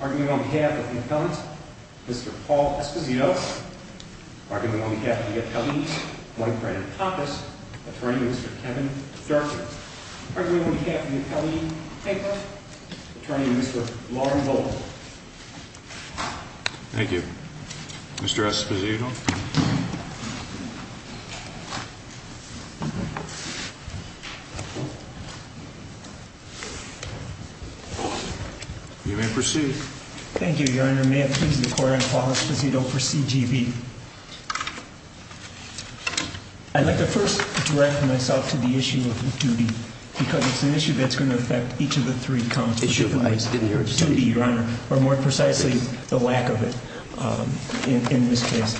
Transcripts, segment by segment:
Argument on behalf of the appellant, Mr. Paul Escovedo, argument on behalf of the appellant, I'd like to first direct myself to the issue of duty, because it's an issue that's going to affect each of the three counts. Issue of what? Duty, Your Honor, or more precisely, the lack of it in this case.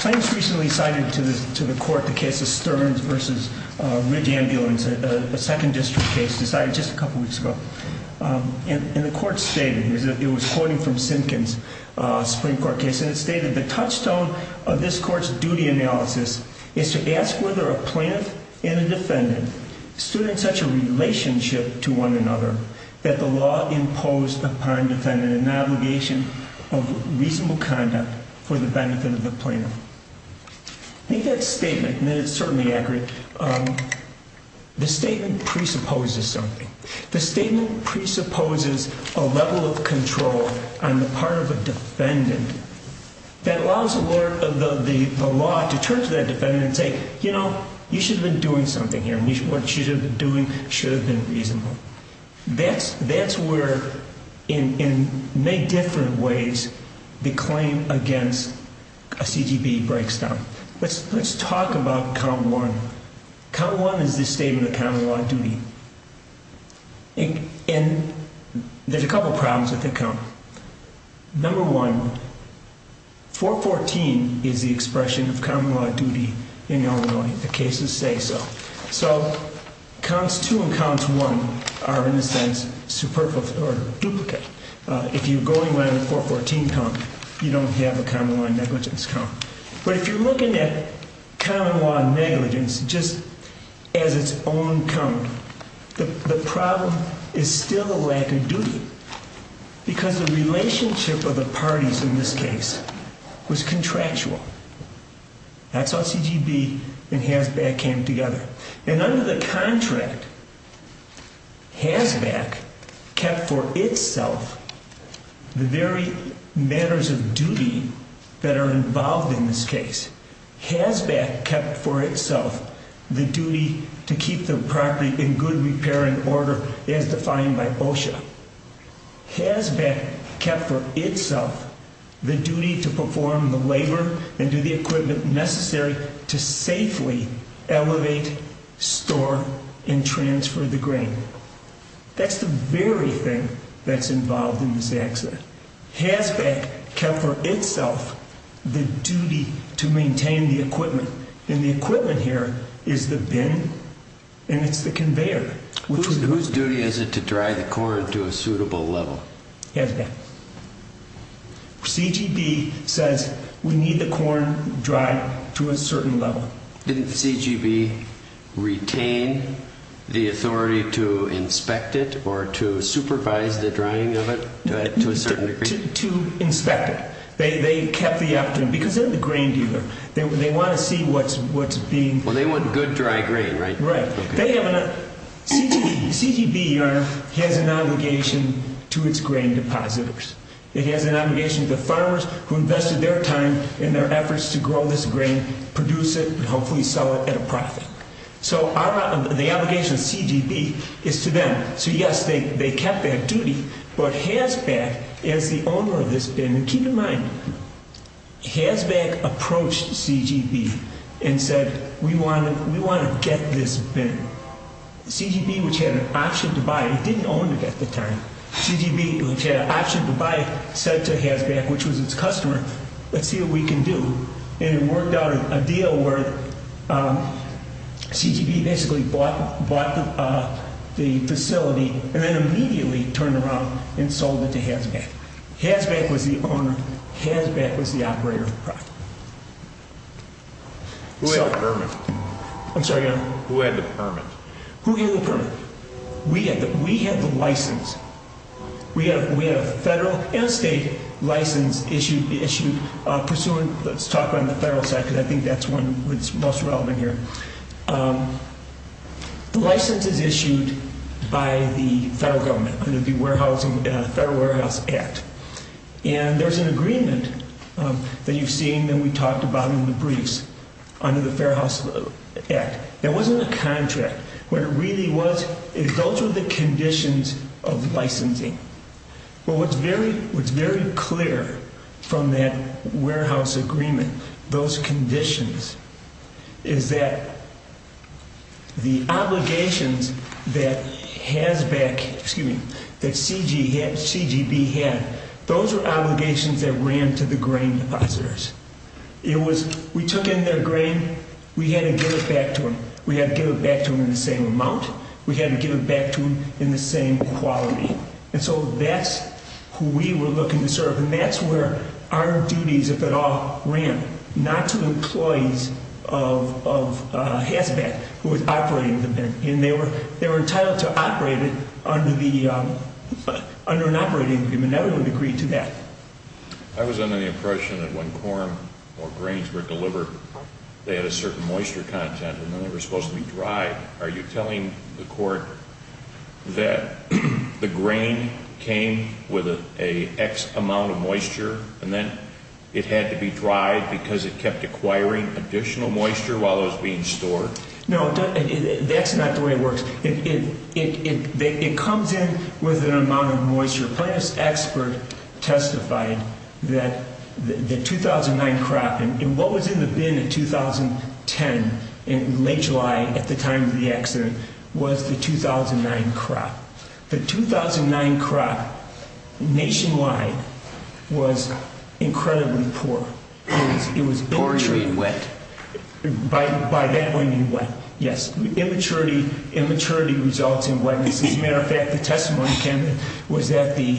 Claims recently cited to the court the case of Stearns v. Ridge Ambulance, a 2nd District case decided just a couple weeks ago. And the court stated, it was quoted from Sinkin's Supreme Court case, and it stated, The touchstone of this court's duty analysis is to ask whether a plaintiff and a defendant stood in such a relationship to one another that the law imposed upon the defendant an obligation of reasonable conduct for the benefit of the plaintiff. I think that statement, and it is certainly accurate, the statement presupposes something. The statement presupposes a level of control on the part of a defendant that allows the law to turn to that defendant and say, You know, you should have been doing something here, and what you should have been doing should have been reasonable. That's where, in many different ways, the claim against a CGB breaks down. Let's talk about count one. Count one is the statement of common law duty. And there's a couple problems with the count. Number one, 414 is the expression of common law duty in Illinois. The cases say so. So counts two and counts one are, in a sense, superfluous or duplicate. If you're going by the 414 count, you don't have a common law negligence count. But if you're looking at common law negligence just as its own count, the problem is still a lack of duty because the relationship of the parties in this case was contractual. That's how CGB and HASBAC came together. And under the contract, HASBAC kept for itself the very matters of duty that are involved in this case. HASBAC kept for itself the duty to keep the property in good repair and order as defined by OSHA. HASBAC kept for itself the duty to perform the labor and do the equipment necessary to safely elevate, store, and transfer the grain. That's the very thing that's involved in this accident. HASBAC kept for itself the duty to maintain the equipment. And the equipment here is the bin and it's the conveyor. Whose duty is it to dry the corn to a suitable level? HASBAC. CGB says we need the corn dried to a certain level. Didn't CGB retain the authority to inspect it or to supervise the drying of it to a certain degree? To inspect it. They kept the opportunity because they're the grain dealer. They want to see what's being— Well, they want good dry grain, right? Right. CGB has an obligation to its grain depositors. It has an obligation to the farmers who invested their time and their efforts to grow this grain, produce it, and hopefully sell it at a profit. So the obligation of CGB is to them. So yes, they kept that duty. But HASBAC, as the owner of this bin—and keep in mind, HASBAC approached CGB and said we want to get this bin. CGB, which had an option to buy it—it didn't own it at the time. CGB, which had an option to buy it, said to HASBAC, which was its customer, let's see what we can do. And it worked out a deal where CGB basically bought the facility and then immediately turned around and sold it to HASBAC. HASBAC was the owner. HASBAC was the operator. Who had the permit? I'm sorry, Your Honor? Who had the permit? Who had the permit? We had the license. We had a federal and state license issued pursuant—let's talk on the federal side because I think that's one that's most relevant here. The license is issued by the federal government under the Federal Warehouse Act. And there's an agreement that you've seen that we talked about in the briefs under the Fairhouse Act. That wasn't a contract. What it really was is those were the conditions of licensing. But what's very clear from that warehouse agreement, those conditions, is that the obligations that HASBAC—excuse me, that CGB had, those were obligations that ran to the grain depositors. We took in their grain. We had to give it back to them. We had to give it back to them in the same amount. We had to give it back to them in the same quality. And so that's who we were looking to serve. And that's where our duties, if at all, ran, not to employees of HASBAC who was operating the bin. And they were entitled to operate it under an operating agreement, and everyone agreed to that. I was under the impression that when corn or grains were delivered, they had a certain moisture content, and then they were supposed to be dried. Are you telling the court that the grain came with an X amount of moisture, and then it had to be dried because it kept acquiring additional moisture while it was being stored? No, that's not the way it works. It comes in with an amount of moisture. The plaintiff's expert testified that the 2009 crop, and what was in the bin in 2010, in late July at the time of the accident, was the 2009 crop. The 2009 crop nationwide was incredibly poor. Poor and wet. By that, I mean wet, yes. Immaturity results in wetness. As a matter of fact, the testimony, Ken, was that the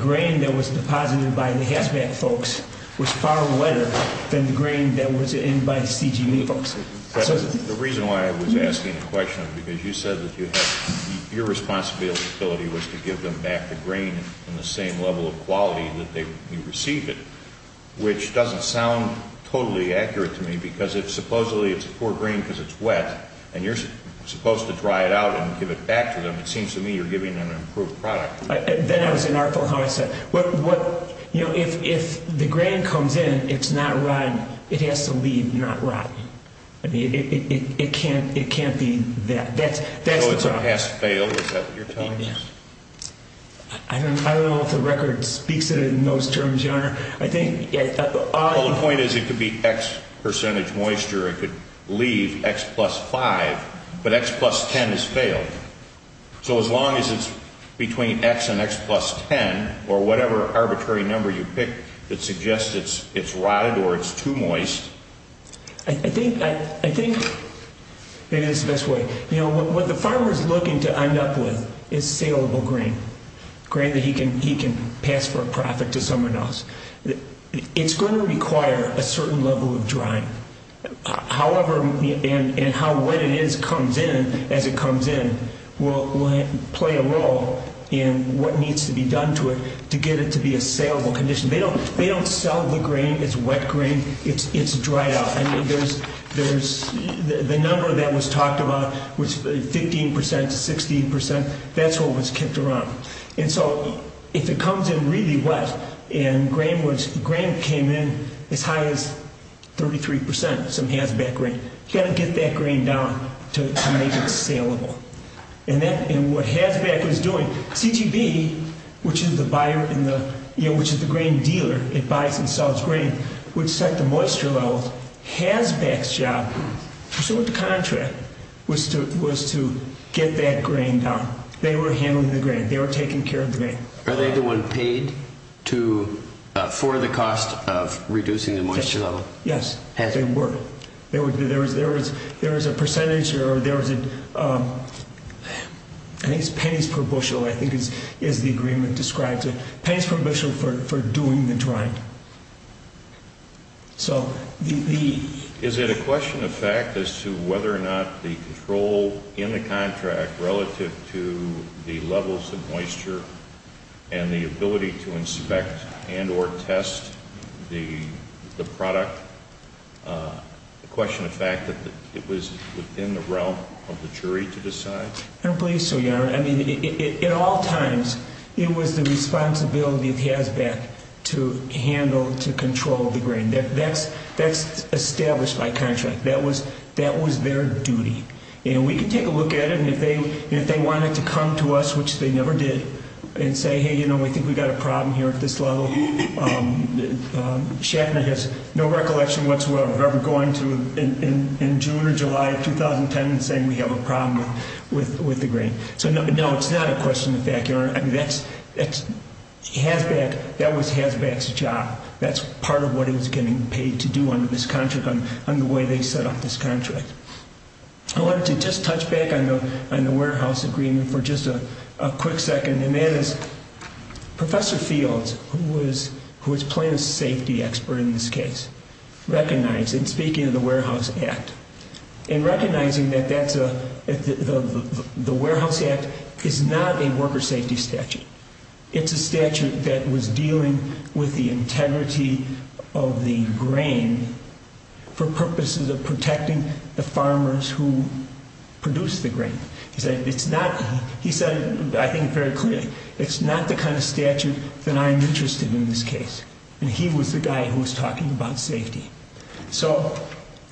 grain that was deposited by the HASBAC folks was far wetter than the grain that was in by CGM folks. The reason why I was asking the question is because you said that your responsibility was to give them back the grain in the same level of quality that they receive it, which doesn't sound totally accurate to me because if supposedly it's poor grain because it's wet, and you're supposed to dry it out and give it back to them, it seems to me you're giving them an improved product. Then I was inartful how I said it. If the grain comes in, it's not rotten. It has to leave not rotten. It can't be that. So it's a pass-fail? Is that what you're telling us? I don't know if the record speaks to it in those terms, Your Honor. The point is it could be X percentage moisture. It could leave X plus 5, but X plus 10 is failed. So as long as it's between X and X plus 10 or whatever arbitrary number you pick that suggests it's rotted or it's too moist. I think maybe this is the best way. What the farmer is looking to end up with is saleable grain, grain that he can pass for a profit to someone else. It's going to require a certain level of drying. However, and how wet it is comes in as it comes in will play a role in what needs to be done to it to get it to be a saleable condition. They don't sell the grain. It's wet grain. It's dried out. The number that was talked about was 15 percent to 16 percent. That's what was kept around. And so if it comes in really wet and grain came in as high as 33 percent, some haz-back grain, you've got to get that grain down to make it saleable. And what haz-back was doing, CGB, which is the grain dealer that buys and sells grain, would set the moisture levels. Haz-back's job, pursuant to contract, was to get that grain down. They were handling the grain. They were taking care of the grain. Are they the one paid for the cost of reducing the moisture level? Yes, they were. There was a percentage or there was a pennies per bushel, I think is the agreement describes it, pennies per bushel for doing the drying. Is it a question of fact as to whether or not the control in the contract relative to the levels of moisture and the ability to inspect and or test the product, a question of fact that it was within the realm of the jury to decide? I don't believe so, Your Honor. I mean, at all times, it was the responsibility of haz-back to handle, to control the grain. That's established by contract. That was their duty. And we can take a look at it, and if they wanted to come to us, which they never did, and say, hey, you know, we think we've got a problem here at this level, Shatner has no recollection whatsoever of ever going to in June or July of 2010 and saying we have a problem with the grain. So, no, it's not a question of fact, Your Honor. I mean, that's, haz-back, that was haz-back's job. That's part of what he was getting paid to do under this contract, under the way they set up this contract. I wanted to just touch back on the warehouse agreement for just a quick second. And that is, Professor Fields, who was plant safety expert in this case, recognized, and speaking of the Warehouse Act, and recognizing that that's a, the Warehouse Act is not a worker safety statute. It's a statute that was dealing with the integrity of the grain for purposes of protecting the farmers who produce the grain. He said, it's not, he said, I think very clearly, it's not the kind of statute that I'm interested in in this case. And he was the guy who was talking about safety. So,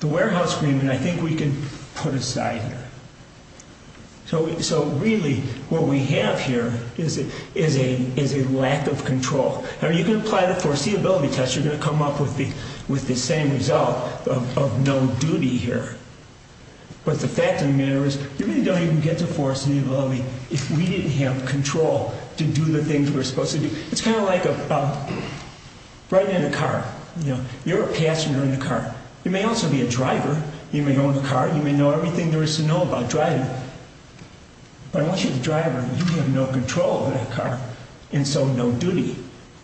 the warehouse agreement, I think we can put aside here. So, really, what we have here is a lack of control. You can apply the foreseeability test, you're going to come up with the same result of no duty here. But the fact of the matter is, you really don't even get to foreseeability if we didn't have control to do the things we were supposed to do. It's kind of like a, right in a car, you know, you're a passenger in a car. You may also be a driver. You may own a car, you may know everything there is to know about driving. But once you're the driver, you have no control of that car. And so, no duty.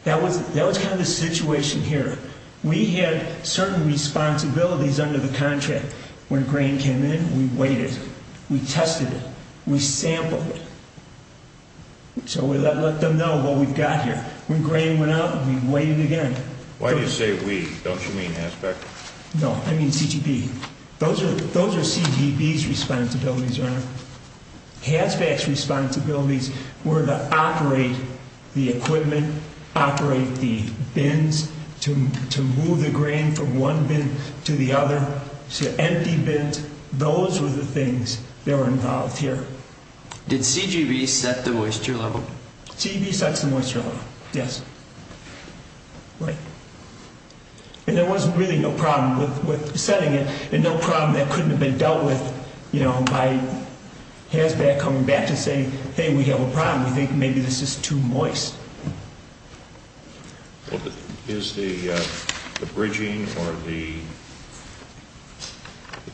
That was kind of the situation here. We had certain responsibilities under the contract. When grain came in, we weighed it. We tested it. We sampled it. So, we let them know what we've got here. When grain went out, we weighed it again. Why do you say we? Don't you mean HASBAC? No, I mean CGB. Those are CGB's responsibilities, Ernie. HASBAC's responsibilities were to operate the equipment, operate the bins, to move the grain from one bin to the other, to empty bins. Those were the things that were involved here. Did CGB set the moisture level? CGB sets the moisture level, yes. Right. And there was really no problem with setting it and no problem that couldn't have been dealt with, you know, by HASBAC coming back to say, Hey, we have a problem. We think maybe this is too moist. Is the bridging or the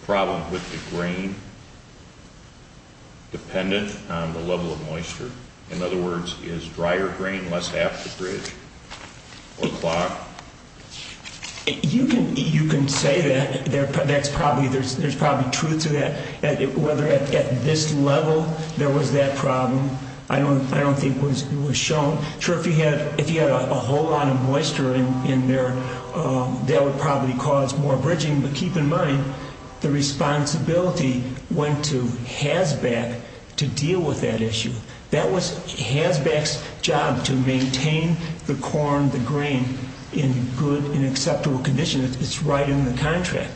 problem with the grain dependent on the level of moisture? In other words, is drier grain less apt to bridge or clog? You can say that. There's probably truth to that. Whether at this level there was that problem, I don't think it was shown. Sure, if you had a whole lot of moisture in there, that would probably cause more bridging. But keep in mind, the responsibility went to HASBAC to deal with that issue. That was HASBAC's job to maintain the corn, the grain, in good and acceptable condition. It's right in the contract.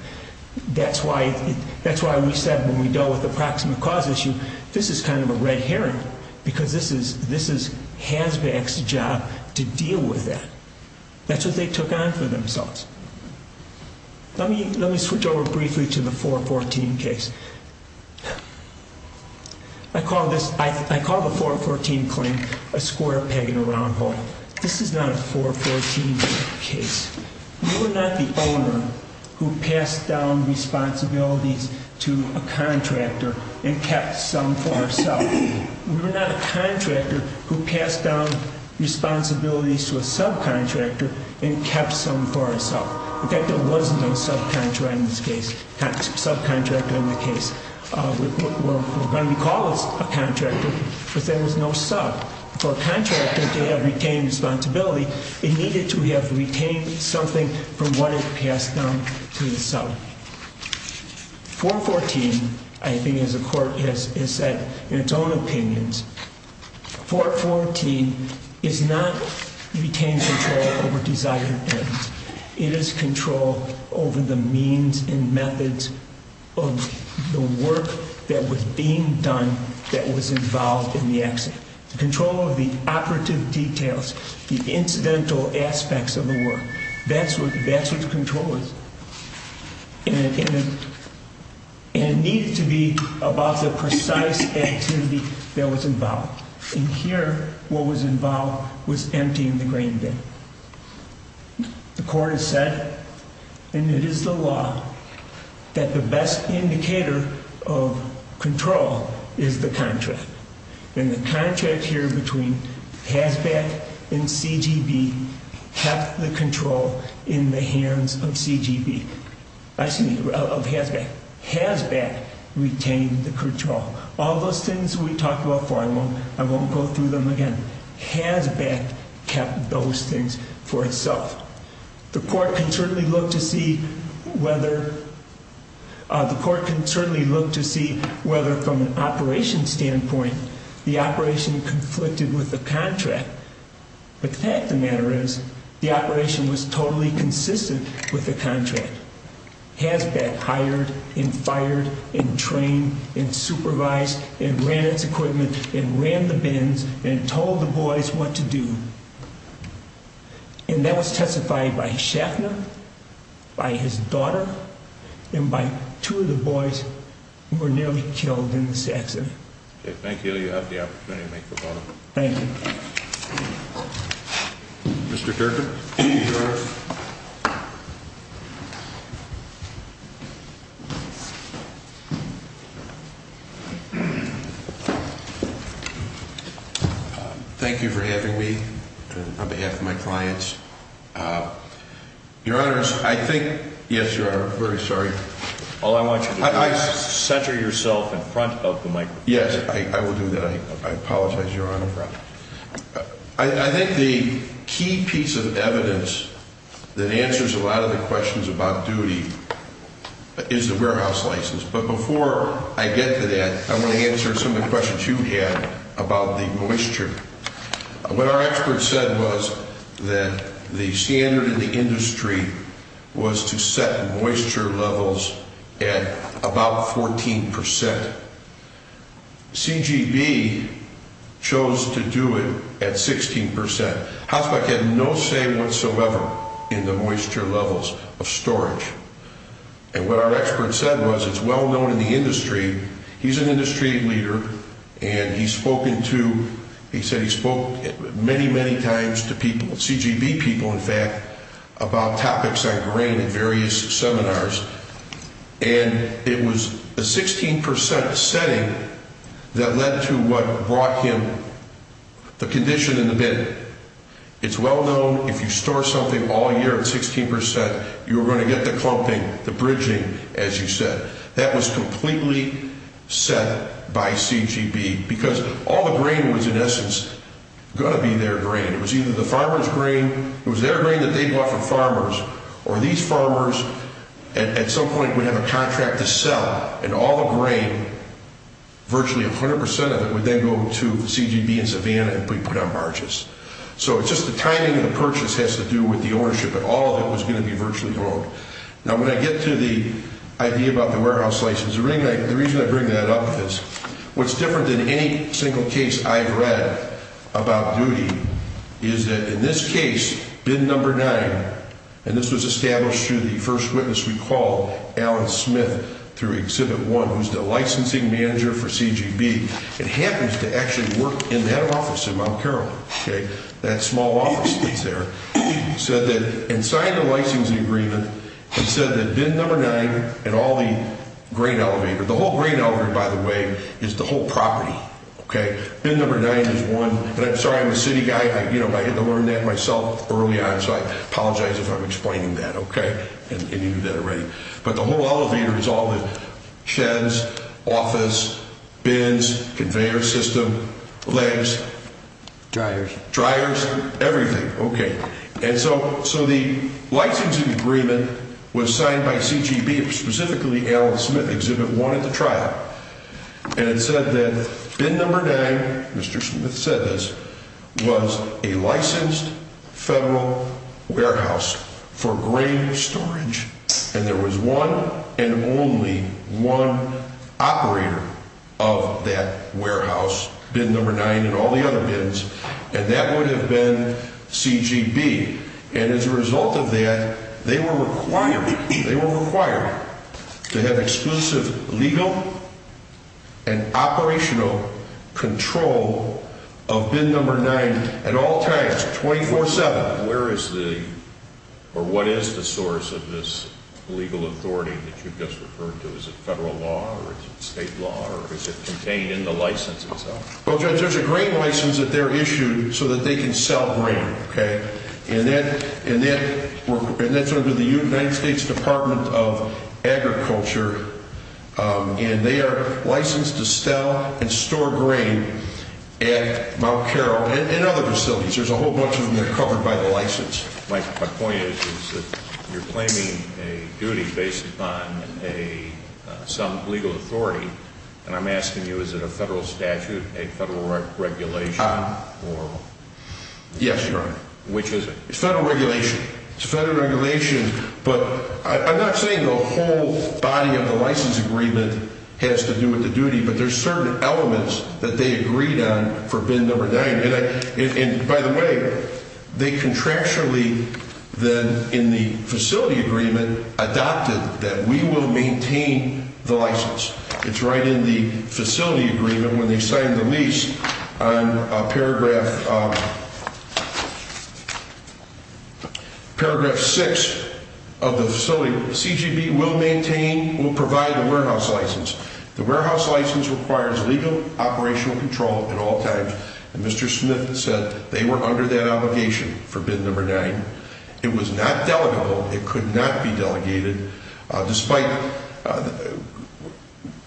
That's why we said when we dealt with the proximate cause issue, this is kind of a red herring, because this is HASBAC's job to deal with that. That's what they took on for themselves. Let me switch over briefly to the 414 case. I call the 414 claim a square peg in a round hole. This is not a 414 case. We were not the owner who passed down responsibilities to a contractor and kept some for ourselves. We were not a contractor who passed down responsibilities to a subcontractor and kept some for ourselves. In fact, there was no subcontractor in the case. We're going to call this a contractor, but there was no sub. For a contractor to have retained responsibility, it needed to have retained something from what it passed down to the sub. 414, I think as the Court has said in its own opinions, 414 is not retained control over desired ends. It is control over the means and methods of the work that was being done that was involved in the accident. Control of the operative details, the incidental aspects of the work. That's what control is. And it needed to be about the precise activity that was involved. And here, what was involved was emptying the grain bin. The Court has said, and it is the law, that the best indicator of control is the contract. And the contract here between HAZBAT and CGB kept the control in the hands of CGB. I'm sorry, of HAZBAT. HAZBAT retained the control. All those things we talked about before, I won't go through them again. HAZBAT kept those things for itself. The Court can certainly look to see whether from an operations standpoint the operation conflicted with the contract. But the fact of the matter is the operation was totally consistent with the contract. HAZBAT hired and fired and trained and supervised and ran its equipment and ran the bins and told the boys what to do. And that was testified by Schaffner, by his daughter, and by two of the boys who were nearly killed in this accident. Okay, thank you. You have the opportunity to make a vote. Thank you. Mr. Durkin. Thank you for having me on behalf of my clients. Your Honors, I think – yes, Your Honor, I'm very sorry. All I want you to do is center yourself in front of the microphone. Yes, I will do that. I apologize, Your Honor. I think the key piece of evidence that answers a lot of the questions about duty is the warehouse license. But before I get to that, I want to answer some of the questions you had about the moisture. What our expert said was that the standard in the industry was to set moisture levels at about 14 percent. CGB chose to do it at 16 percent. HAZBAT had no say whatsoever in the moisture levels of storage. And what our expert said was it's well known in the industry – he's an industry leader, and he said he spoke many, many times to CGB people, in fact, about topics on grain at various seminars. And it was a 16 percent setting that led to what brought him the condition in the bid. It's well known if you store something all year at 16 percent, you're going to get the clumping, the bridging, as you said. That was completely set by CGB because all the grain was, in essence, going to be their grain. It was either the farmer's grain, it was their grain that they bought from farmers, or these farmers, at some point, would have a contract to sell. And all the grain, virtually 100 percent of it, would then go to CGB in Savannah and be put on barges. So it's just the timing of the purchase has to do with the ownership. But all of it was going to be virtually grown. Now, when I get to the idea about the warehouse license, the reason I bring that up is, what's different than any single case I've read about duty is that in this case, bid number nine, and this was established through the first witness we called, Alan Smith, through Exhibit 1, who's the licensing manager for CGB, and happens to actually work in that office in Mount Carolina, that small office that's there, said that, and signed the licensing agreement, and said that bid number nine and all the grain elevator, the whole grain elevator, by the way, is the whole property. Okay? Bid number nine is one, and I'm sorry, I'm a city guy, I had to learn that myself early on, so I apologize if I'm explaining that, okay, and you knew that already. But the whole elevator is all the sheds, office, bins, conveyor system, legs, dryers, everything. Okay. And so the licensing agreement was signed by CGB, specifically Alan Smith, Exhibit 1 at the trial, and it said that bid number nine, Mr. Smith said this, was a licensed federal warehouse for grain storage, and there was one and only one operator of that warehouse, bid number nine and all the other bins, and that would have been CGB, and as a result of that, they were required, they were required to have exclusive legal and operational control of bid number nine at all times, 24-7. Where is the, or what is the source of this legal authority that you've just referred to? Is it federal law or is it state law or is it contained in the license itself? Well, Judge, there's a grain license that they're issued so that they can sell grain, okay, and that's under the United States Department of Agriculture, and they are licensed to sell and store grain at Mount Carroll and other facilities. There's a whole bunch of them that are covered by the license. My point is that you're claiming a duty based upon some legal authority, and I'm asking you, is it a federal statute, a federal regulation, or? Yes, Your Honor. Which is it? It's federal regulation. It's federal regulation, but I'm not saying the whole body of the license agreement has to do with the duty, but there's certain elements that they agreed on for bid number nine, and by the way, they contractually then in the facility agreement adopted that we will maintain the license. It's right in the facility agreement when they signed the lease on paragraph six of the facility, CGV will maintain, will provide the warehouse license. The warehouse license requires legal operational control at all times, and Mr. Smith said they were under that obligation for bid number nine. It was not delegable. It could not be delegated despite,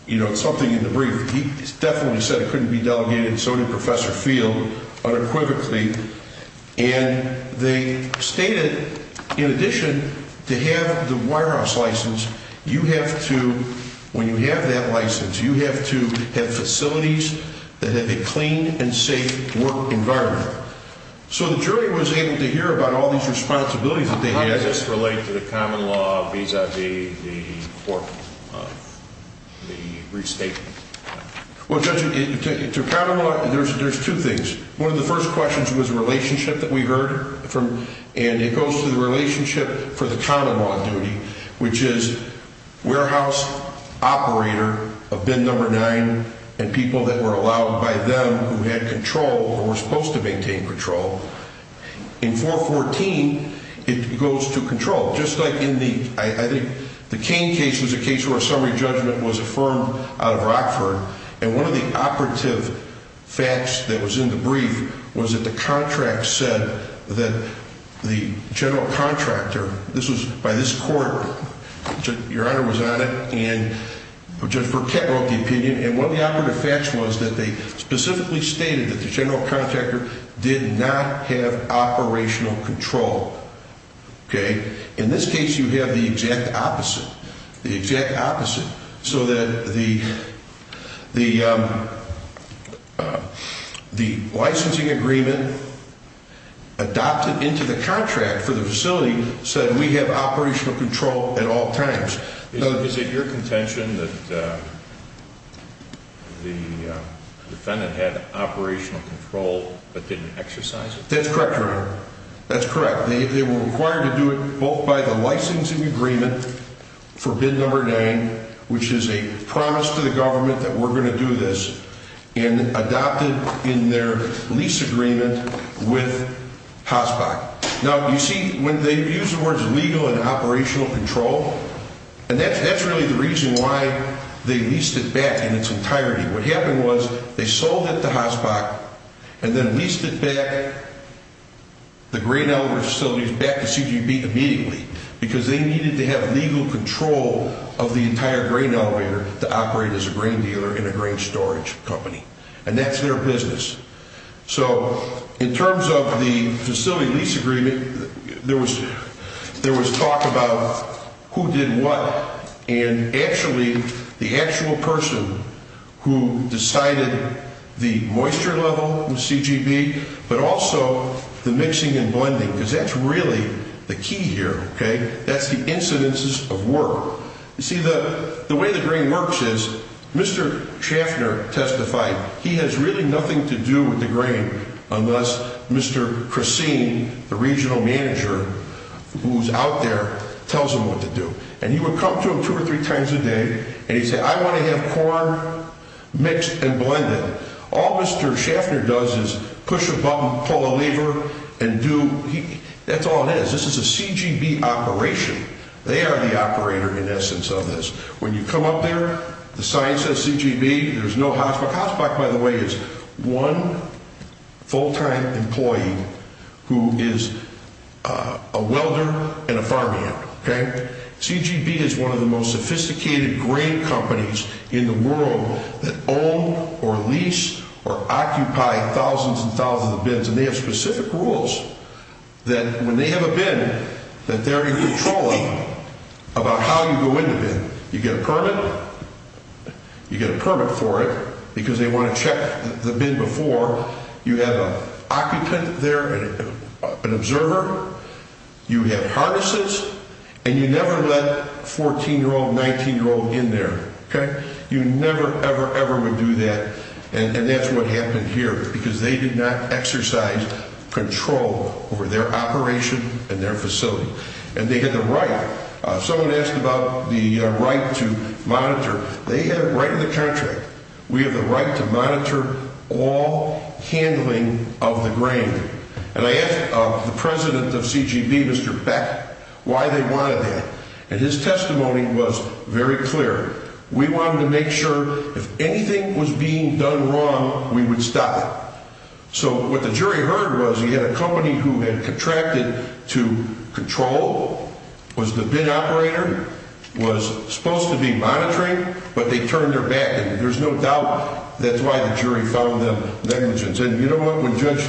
you know, something in the brief. He definitely said it couldn't be delegated, and so did Professor Field unequivocally, and they stated in addition to have the warehouse license, you have to, when you have that license, you have to have facilities that have a clean and safe work environment. So the jury was able to hear about all these responsibilities that they had. How does this relate to the common law vis-a-vis the court, the restatement? Well, Judge, to common law, there's two things. One of the first questions was a relationship that we heard from, and it goes to the relationship for the common law duty, which is warehouse operator of bid number nine and people that were allowed by them who had control or were supposed to maintain control. In 414, it goes to control. Just like in the, I think the Kane case was a case where a summary judgment was affirmed out of Rockford, and one of the operative facts that was in the brief was that the contract said that the general contractor, this was by this court. Your Honor was on it, and Judge Burkett wrote the opinion, and one of the operative facts was that they specifically stated that the general contractor did not have operational control. Okay? In this case, you have the exact opposite, the exact opposite, so that the licensing agreement adopted into the contract for the facility said we have operational control at all times. Is it your contention that the defendant had operational control but didn't exercise it? That's correct, Your Honor. That's correct. They were required to do it both by the licensing agreement for bid number nine, which is a promise to the government that we're going to do this, and adopted in their lease agreement with Haasbach. Now, you see, when they use the words legal and operational control, and that's really the reason why they leased it back in its entirety. What happened was they sold it to Haasbach and then leased it back, the grain elevator facilities, back to CGB immediately because they needed to have legal control of the entire grain elevator to operate as a grain dealer in a grain storage company, and that's their business. So in terms of the facility lease agreement, there was talk about who did what, and actually the actual person who decided the moisture level in CGB, but also the mixing and blending, because that's really the key here, okay? That's the incidences of work. You see, the way the grain works is Mr. Schaffner testified he has really nothing to do with the grain unless Mr. Christine, the regional manager who's out there, tells him what to do. And he would come to him two or three times a day, and he'd say, I want to have corn mixed and blended. All Mr. Schaffner does is push a button, pull a lever, and do – that's all it is. This is a CGB operation. They are the operator, in essence, of this. When you come up there, the sign says CGB. There's no Haasbach. Haasbach, by the way, is one full-time employee who is a welder and a farmhand, okay? CGB is one of the most sophisticated grain companies in the world that own or lease or occupy thousands and thousands of bins. And they have specific rules that when they have a bin that they're in control of about how you go in the bin. You get a permit. You get a permit for it because they want to check the bin before. You have an occupant there, an observer. You have harnesses. And you never let 14-year-old, 19-year-old in there, okay? You never, ever, ever would do that. And that's what happened here because they did not exercise control over their operation and their facility. And they had the right – someone asked about the right to monitor. They had it right in the contract. We have the right to monitor all handling of the grain. And I asked the president of CGB, Mr. Beck, why they wanted that. And his testimony was very clear. We wanted to make sure if anything was being done wrong, we would stop it. So what the jury heard was he had a company who had contracted to control, was the bin operator, was supposed to be monitoring, but they turned their back. And there's no doubt that's why the jury found them negligent. And, you know what, when Judge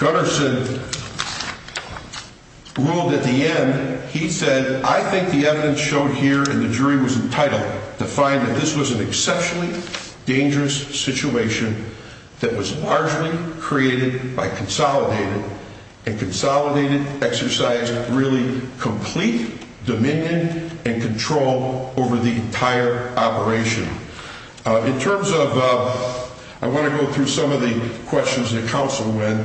Gutterson ruled at the end, he said, I think the evidence showed here, and the jury was entitled to find that this was an exceptionally dangerous situation that was largely created by consolidated, and consolidated exercised really complete dominion and control over the entire operation. In terms of – I want to go through some of the questions that counsel went.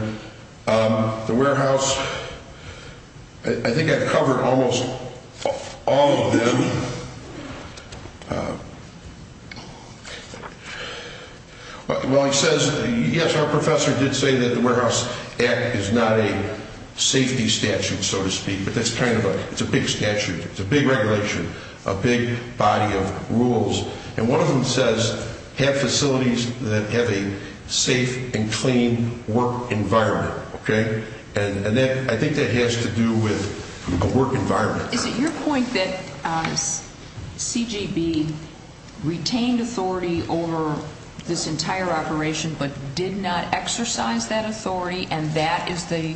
The warehouse – I think I've covered almost all of them. Well, he says, yes, our professor did say that the Warehouse Act is not a safety statute, so to speak, but that's kind of a – it's a big statute. It's a big regulation, a big body of rules. And one of them says have facilities that have a safe and clean work environment, okay? And I think that has to do with a work environment. Is it your point that CGB retained authority over this entire operation but did not exercise that authority, and that is the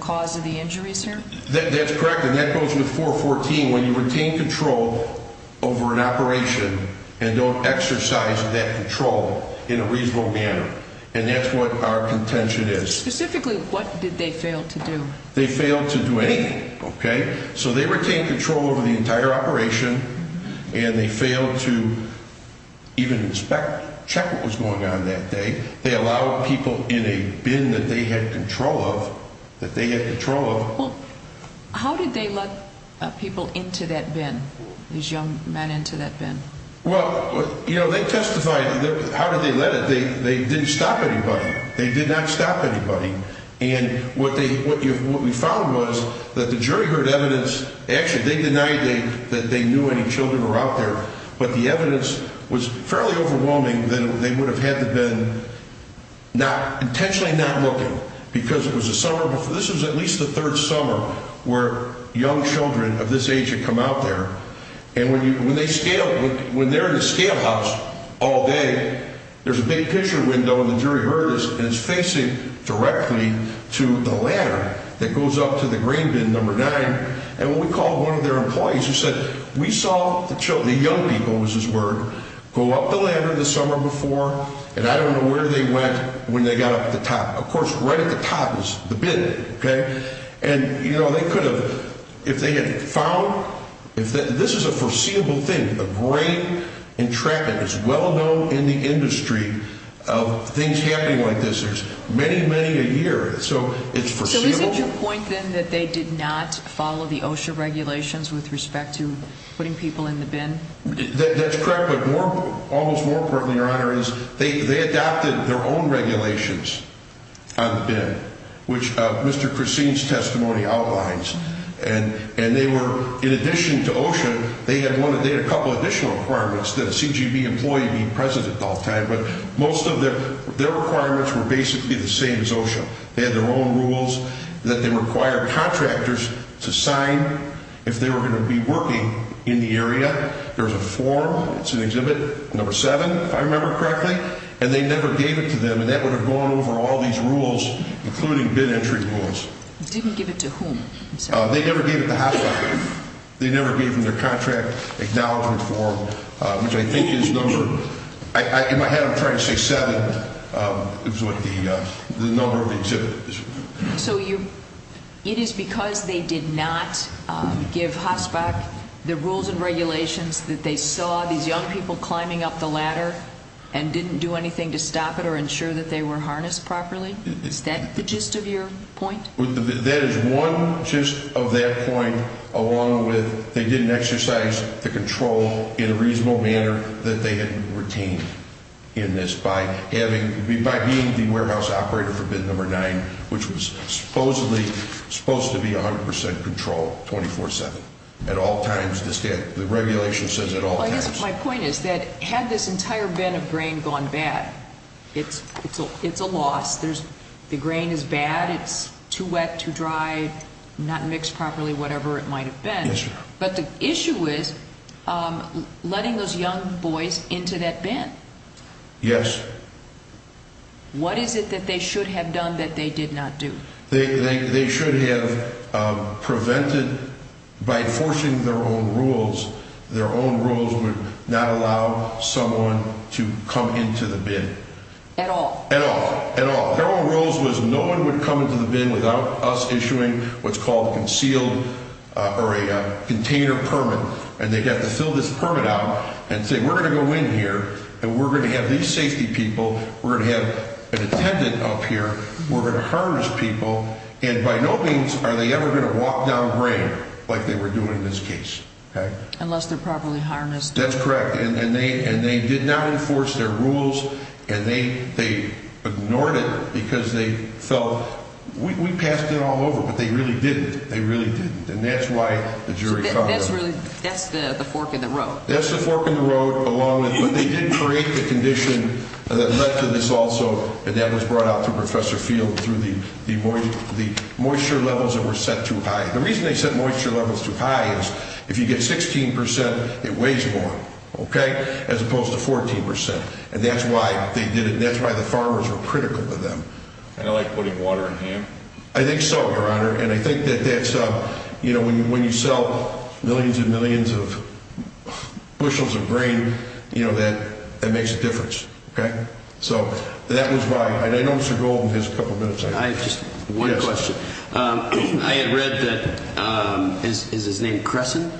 cause of the injuries here? That's correct. And that goes with 414. When you retain control over an operation and don't exercise that control in a reasonable manner, and that's what our contention is. Specifically, what did they fail to do? They failed to do anything, okay? So they retained control over the entire operation, and they failed to even inspect, check what was going on that day. They allowed people in a bin that they had control of, that they had control of. Well, how did they let people into that bin, these young men into that bin? Well, you know, they testified. How did they let it? They didn't stop anybody. They did not stop anybody. And what they – what we found was that the jury heard evidence – actually, they denied that they knew any children were out there, but the evidence was fairly overwhelming that they would have had the bin not – intentionally not looking, because it was the summer before – this was at least the third summer where young children of this age had come out there. And when they scale – when they're in a scale house all day, there's a big picture window, and the jury heard this, and it's facing directly to the ladder that goes up to the green bin, number nine. And what we called one of their employees, who said, we saw the young people, was his word, go up the ladder the summer before, and I don't know where they went when they got up to the top. Of course, right at the top is the bin, okay? And, you know, they could have – if they had found – this is a foreseeable thing, a great entrapment. It's well known in the industry of things happening like this. There's many, many a year, so it's foreseeable. So is it your point, then, that they did not follow the OSHA regulations with respect to putting people in the bin? That's correct, but more – almost more importantly, Your Honor, is they adopted their own regulations. On the bin, which Mr. Christine's testimony outlines. And they were – in addition to OSHA, they had a couple additional requirements that a CGB employee be present at all times, but most of their requirements were basically the same as OSHA. They had their own rules that they required contractors to sign if they were going to be working in the area. There's a form – it's in Exhibit number seven, if I remember correctly – and they never gave it to them, and that would have gone over all these rules, including bin entry rules. Didn't give it to whom? I'm sorry. They never gave it to HOSPAC. They never gave them their contract acknowledgement form, which I think is number – in my head, I'm trying to say seven. It was what the number of the exhibit is. So you – it is because they did not give HOSPAC the rules and regulations that they saw these young people climbing up the ladder and didn't do anything to stop it or ensure that they were harnessed properly? Is that the gist of your point? That is one gist of that point, along with they didn't exercise the control in a reasonable manner that they had retained in this by having – by being the warehouse operator for bin number nine, which was supposedly supposed to be 100 percent control 24-7 at all times. The regulation says at all times. Well, I guess my point is that had this entire bin of grain gone bad, it's a loss. There's – the grain is bad. It's too wet, too dry, not mixed properly, whatever it might have been. Yes, sir. But the issue is letting those young boys into that bin. Yes. What is it that they should have done that they did not do? They should have prevented – by enforcing their own rules, their own rules would not allow someone to come into the bin. At all. At all. Their own rules was no one would come into the bin without us issuing what's called a concealed – or a container permit. And they'd have to fill this permit out and say, we're going to go in here and we're going to have these safety people, we're going to have an attendant up here, we're going to harness people, and by no means are they ever going to walk down grain like they were doing in this case. Unless they're properly harnessed. That's correct. And they did not enforce their rules and they ignored it because they felt we passed it all over. But they really didn't. They really didn't. And that's why the jury – So that's really – that's the fork in the road. That's the fork in the road along with – but they did create the condition that led to this also, and that was brought out through Professor Field through the moisture levels that were set too high. The reason they set moisture levels too high is if you get 16 percent, it weighs more, okay, as opposed to 14 percent. And that's why they did it and that's why the farmers were critical of them. Kind of like putting water in ham? I think so, Your Honor. And I think that that's – you know, when you sell millions and millions of bushels of grain, you know, that makes a difference. Okay? So that was my – and I know Mr. Golden has a couple minutes. I have just one question. I had read that – is his name Crescent?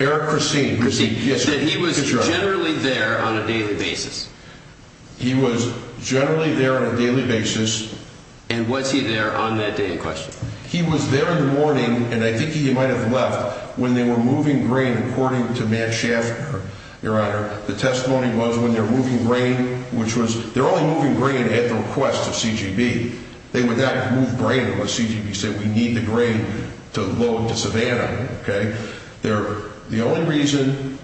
Eric Crescent. Crescent, yes. That he was generally there on a daily basis. He was generally there on a daily basis. And was he there on that day in question? He was there in the morning, and I think he might have left, when they were moving grain according to Matt Schaffner, Your Honor. The testimony was when they're moving grain, which was – they're only moving grain at the request of CGB. They would not move grain unless CGB said we need the grain to load to Savannah, okay? They're – the only reason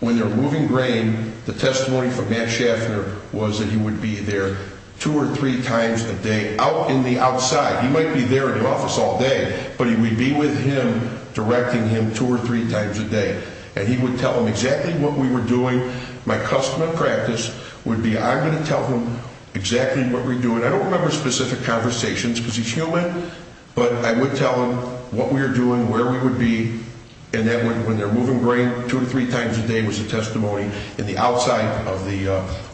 when they're moving grain, the testimony from Matt Schaffner was that he would be there two or three times a day, out in the outside. He might be there in the office all day, but he would be with him directing him two or three times a day. And he would tell him exactly what we were doing. My custom and practice would be I'm going to tell him exactly what we're doing. I don't remember specific conversations because he's human, but I would tell him what we were doing, where we would be, and that when they're moving grain two or three times a day was a testimony in the outside of the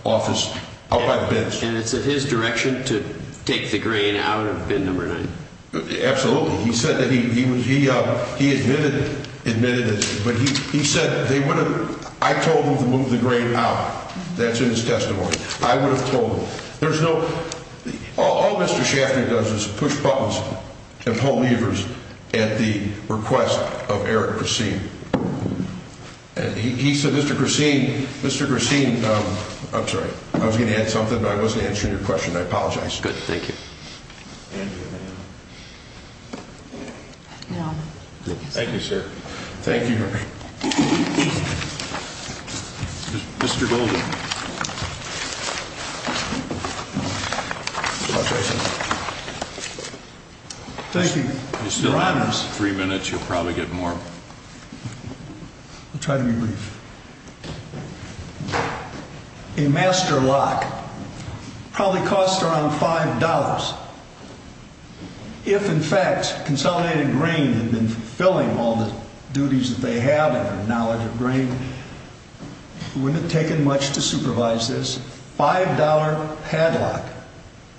office, out by the bench. And it's in his direction to take the grain out of bin number nine? Absolutely. He said that he – he admitted it, but he said they would have – I told them to move the grain out. That's in his testimony. I would have told them. There's no – all Mr. Schaffner does is push buttons and pull levers at the request of Eric Christine. And he said, Mr. Christine, Mr. Christine – I'm sorry. I was going to add something, but I wasn't answering your question. I apologize. Good. Thank you. Thank you, sir. Thank you. Mr. Golden. Thank you. You still have three minutes. You'll probably get more. I'll try to be brief. A master lock probably costs around $5. If, in fact, Consolidated Grain had been fulfilling all the duties that they have and their knowledge of grain, it wouldn't have taken much to supervise this $5 padlock,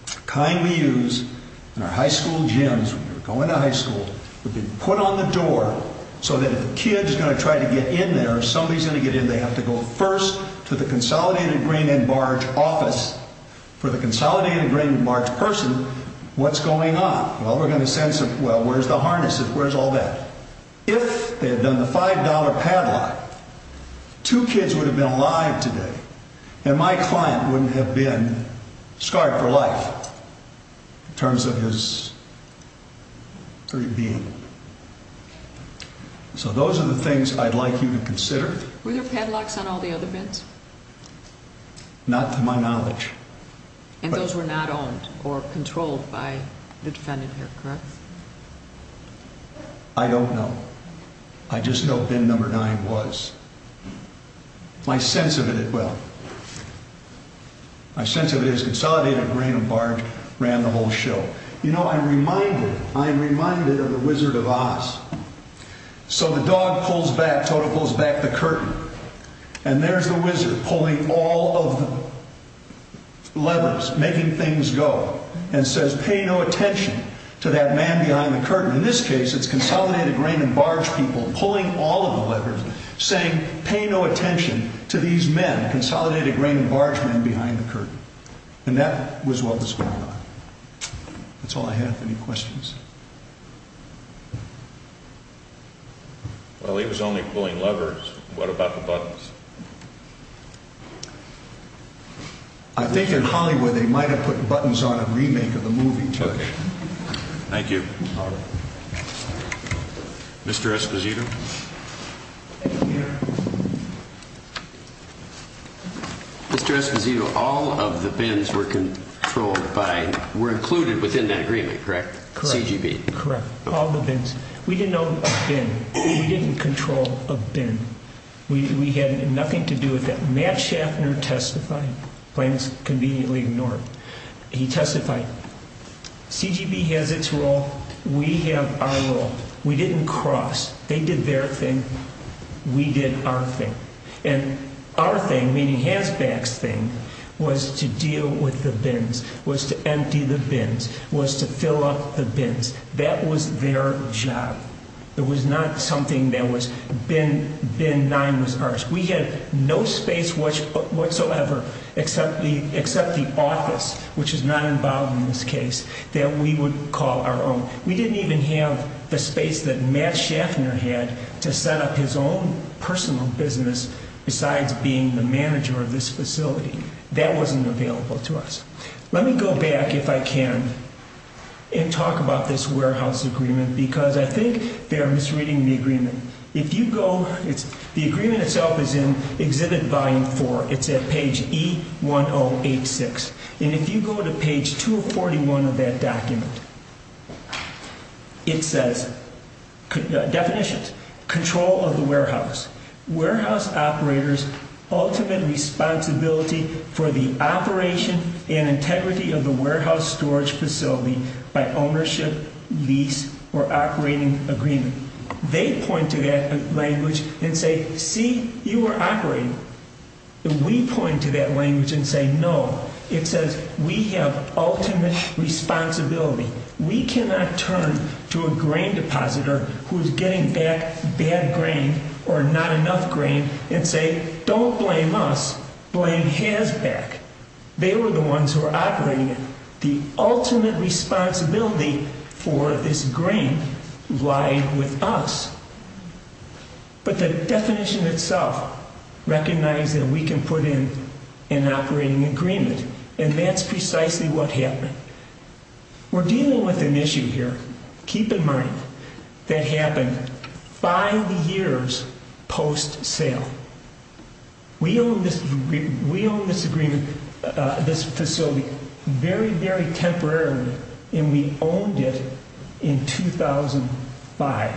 the kind we use in our high school gyms when you're going to high school, would be put on the door so that if a kid is going to try to get in there or somebody's going to get in, they have to go first to the Consolidated Grain and Barge office. For the Consolidated Grain and Barge person, what's going on? Well, we're going to send some – well, where's the harness? Where's all that? If they had done the $5 padlock, two kids would have been alive today, and my client wouldn't have been scarred for life in terms of his being. So those are the things I'd like you to consider. Were there padlocks on all the other bins? Not to my knowledge. And those were not owned or controlled by the defendant here, correct? I don't know. I just know bin number nine was. My sense of it – well, my sense of it is Consolidated Grain and Barge ran the whole show. You know, I'm reminded of the Wizard of Oz. So the dog pulls back, Toto pulls back the curtain, and there's the wizard pulling all of the levers, making things go, and says, pay no attention to that man behind the curtain. In this case, it's Consolidated Grain and Barge people pulling all of the levers, saying, pay no attention to these men, Consolidated Grain and Barge men behind the curtain. And that was what was going on. That's all I have. Any questions? Well, he was only pulling levers. What about the buttons? I think in Hollywood they might have put buttons on a remake of the movie, too. Thank you. Mr. Esposito? Thank you. Mr. Esposito, all of the bins were controlled by – were included within that agreement, correct? Correct. CGB. Correct. All the bins. We didn't know a bin. We didn't control a bin. We had nothing to do with that. Matt Schaffner testified – claims conveniently ignored. He testified, CGB has its role. We have our role. We didn't cross. They did their thing. We did our thing. And our thing, meaning Hasback's thing, was to deal with the bins, was to empty the bins, was to fill up the bins. That was their job. It was not something that was – bin 9 was ours. We had no space whatsoever except the office, which is not involved in this case, that we would call our own. We didn't even have the space that Matt Schaffner had to set up his own personal business besides being the manager of this facility. That wasn't available to us. Let me go back, if I can, and talk about this warehouse agreement because I think they are misreading the agreement. If you go – the agreement itself is in Exhibit Volume 4. It's at page E1086. And if you go to page 241 of that document, it says – definitions. Control of the warehouse. Warehouse operators' ultimate responsibility for the operation and integrity of the warehouse storage facility by ownership, lease, or operating agreement. They point to that language and say, see, you are operating. We point to that language and say, no. It says we have ultimate responsibility. We cannot turn to a grain depositor who is getting back bad grain or not enough grain and say, don't blame us, blame HAZBAC. They were the ones who were operating it. The ultimate responsibility for this grain lied with us. But the definition itself recognizes that we can put in an operating agreement, and that's precisely what happened. We're dealing with an issue here, keep in mind, that happened five years post-sale. We owned this facility very, very temporarily, and we owned it in 2005.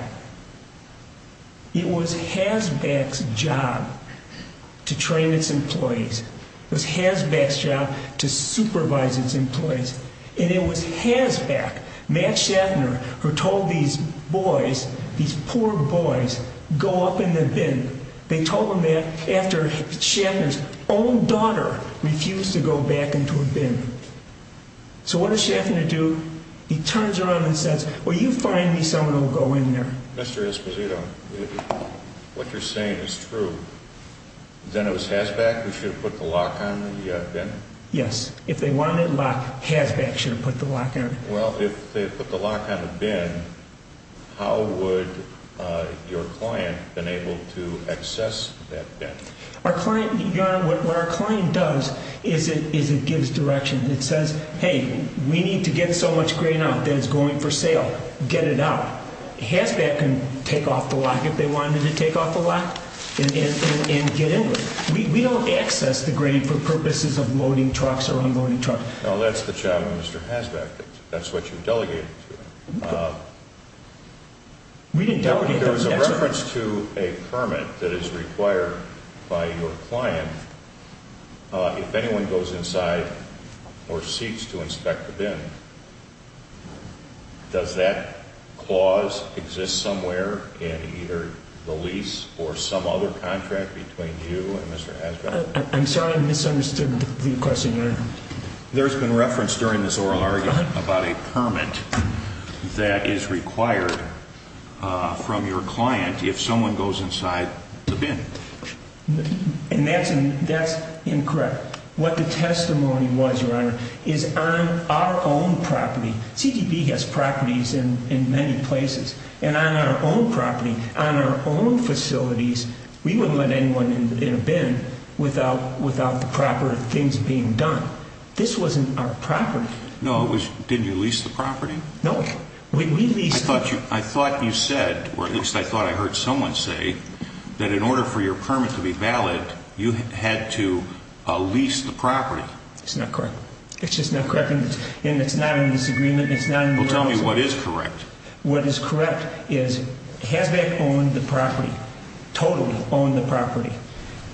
It was HAZBAC's job to train its employees. It was HAZBAC's job to supervise its employees. And it was HAZBAC, Matt Shatner, who told these boys, these poor boys, go up in the bin. They told them that after Shatner's own daughter refused to go back into a bin. So what does Shatner do? He turns around and says, well, you find me someone who will go in there. Mr. Esposito, what you're saying is true. Then it was HAZBAC who should have put the lock on the bin? Yes. If they wanted a lock, HAZBAC should have put the lock on it. Well, if they put the lock on the bin, how would your client have been able to access that bin? Your Honor, what our client does is it gives direction. It says, hey, we need to get so much grain out that it's going for sale. Get it out. HAZBAC can take off the lock if they wanted to take off the lock and get in with it. We don't access the grain for purposes of loading trucks or unloading trucks. Well, that's the job of Mr. HAZBAC. That's what you delegated to him. We didn't delegate to him. If there is a reference to a permit that is required by your client, if anyone goes inside or seeks to inspect the bin, does that clause exist somewhere in either the lease or some other contract between you and Mr. HAZBAC? I'm sorry I misunderstood the question, Your Honor. There's been reference during this oral argument about a permit that is required from your client if someone goes inside the bin. And that's incorrect. What the testimony was, Your Honor, is on our own property. CDB has properties in many places. And on our own property, on our own facilities, we wouldn't let anyone in a bin without the proper things being done. This wasn't our property. No. Didn't you lease the property? No. We leased it. I thought you said, or at least I thought I heard someone say, that in order for your permit to be valid, you had to lease the property. It's not correct. It's just not correct. And it's not in this agreement. Well, tell me what is correct. What is correct is HAZBAC owned the property, totally owned the property.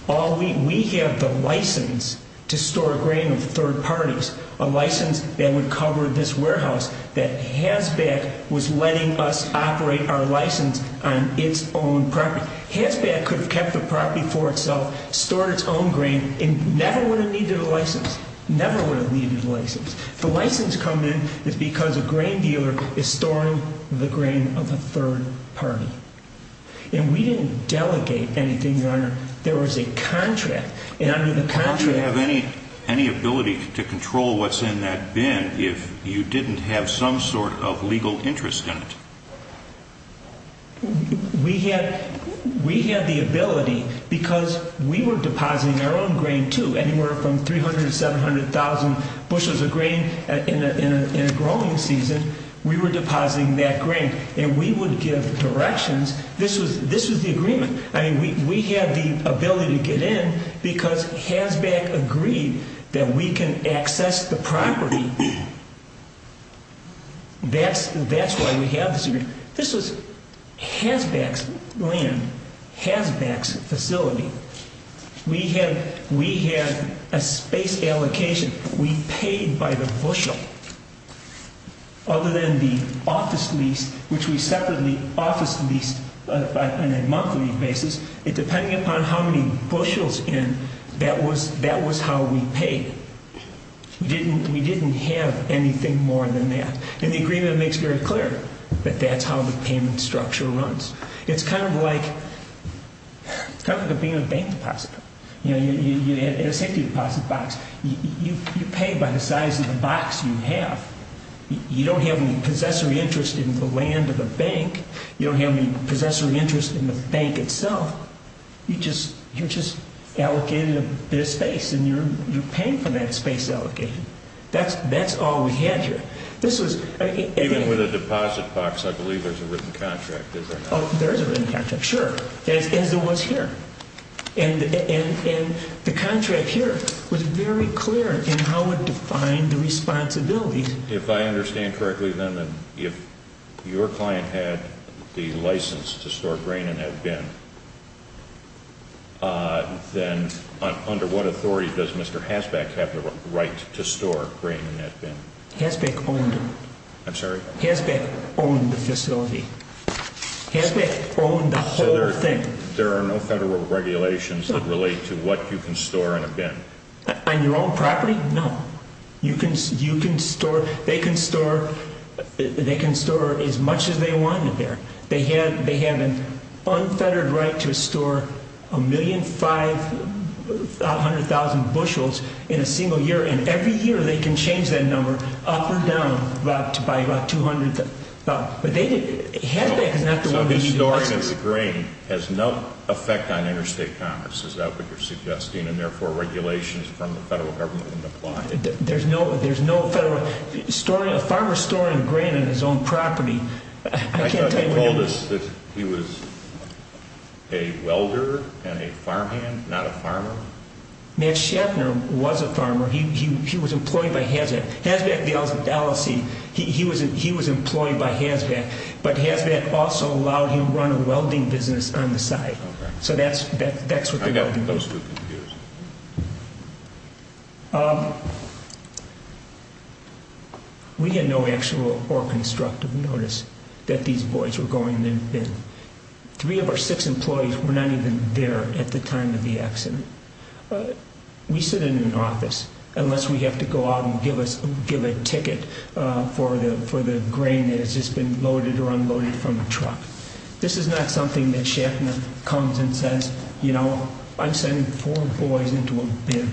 We have the license to store grain of third parties, a license that would cover this warehouse, that HAZBAC was letting us operate our license on its own property. HAZBAC could have kept the property for itself, stored its own grain, and never would have needed a license. Never would have needed a license. The license coming in is because a grain dealer is storing the grain of a third party. And we didn't delegate anything, Your Honor. There was a contract, and under the contract— Would you have any ability to control what's in that bin if you didn't have some sort of legal interest in it? We had the ability because we were depositing our own grain, too, anywhere from 300,000 to 700,000 bushels of grain in a growing season. We were depositing that grain, and we would give directions. This was the agreement. I mean, we had the ability to get in because HAZBAC agreed that we can access the property. That's why we have this agreement. This was HAZBAC's land, HAZBAC's facility. We had a space allocation. We paid by the bushel. Other than the office lease, which we separately office leased on a monthly basis, depending upon how many bushels in, that was how we paid. We didn't have anything more than that. And the agreement makes very clear that that's how the payment structure runs. It's kind of like being a bank depositor. In a safety deposit box, you pay by the size of the box you have. You don't have any possessory interest in the land or the bank. You don't have any possessory interest in the bank itself. You're just allocated a bit of space, and you're paying for that space allocation. That's all we had here. Even with a deposit box, I believe there's a written contract, is there not? There is a written contract, sure, as there was here. And the contract here was very clear in how it defined the responsibilities. If I understand correctly, then, if your client had the license to store grain in that bin, then under what authority does Mr. HAZBAC have the right to store grain in that bin? HAZBAC owned it. I'm sorry? HAZBAC owned the facility. HAZBAC owned the whole thing. So there are no federal regulations that relate to what you can store in a bin? On your own property? No. They can store as much as they want in there. They have an unfettered right to store 1,500,000 bushels in a single year, and every year they can change that number up or down by about 200,000. But HAZBAC is not the one who needs it. So the storing of the grain has no effect on interstate commerce, is that what you're suggesting, and therefore regulations from the federal government wouldn't apply? There's no federal – a farmer storing grain on his own property – I thought they told us that he was a welder and a farmhand, not a farmer? Matt Schaffner was a farmer. He was employed by HAZBAC. HAZBAC, the LLC, he was employed by HAZBAC, but HAZBAC also allowed him to run a welding business on the site. Okay. So that's what the welding business is. I got most of the news. Three of our six employees were not even there at the time of the accident. We sit in an office, unless we have to go out and give a ticket for the grain that has just been loaded or unloaded from a truck. This is not something that Schaffner comes and says, you know, I'm sending four boys into a bin.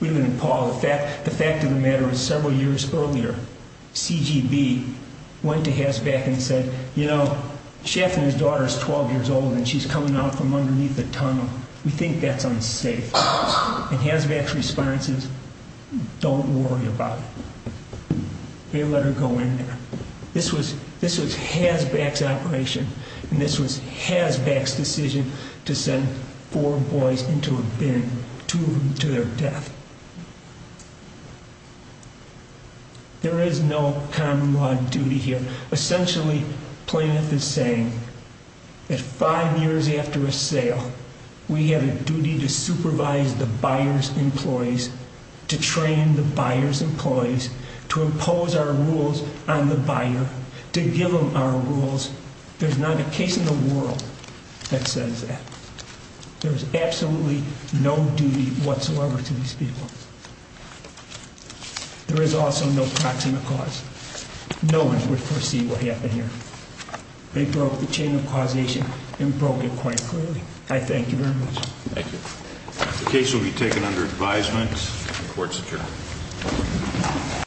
The fact of the matter is several years earlier, CGB went to HAZBAC and said, you know, Schaffner's daughter is 12 years old and she's coming out from underneath the tunnel. We think that's unsafe. And HAZBAC's response is, don't worry about it. They let her go in there. This was HAZBAC's operation, and this was HAZBAC's decision to send four boys into a bin, two of them to their death. There is no common law duty here. Essentially, Planeth is saying that five years after a sale, we have a duty to supervise the buyer's employees, to train the buyer's employees, to impose our rules on the buyer, to give them our rules. There's not a case in the world that says that. There is absolutely no duty whatsoever to these people. There is also no proximate cause. No one could foresee what happened here. They broke the chain of causation and broke it quite clearly. I thank you very much. Thank you. The case will be taken under advisement. The court is adjourned.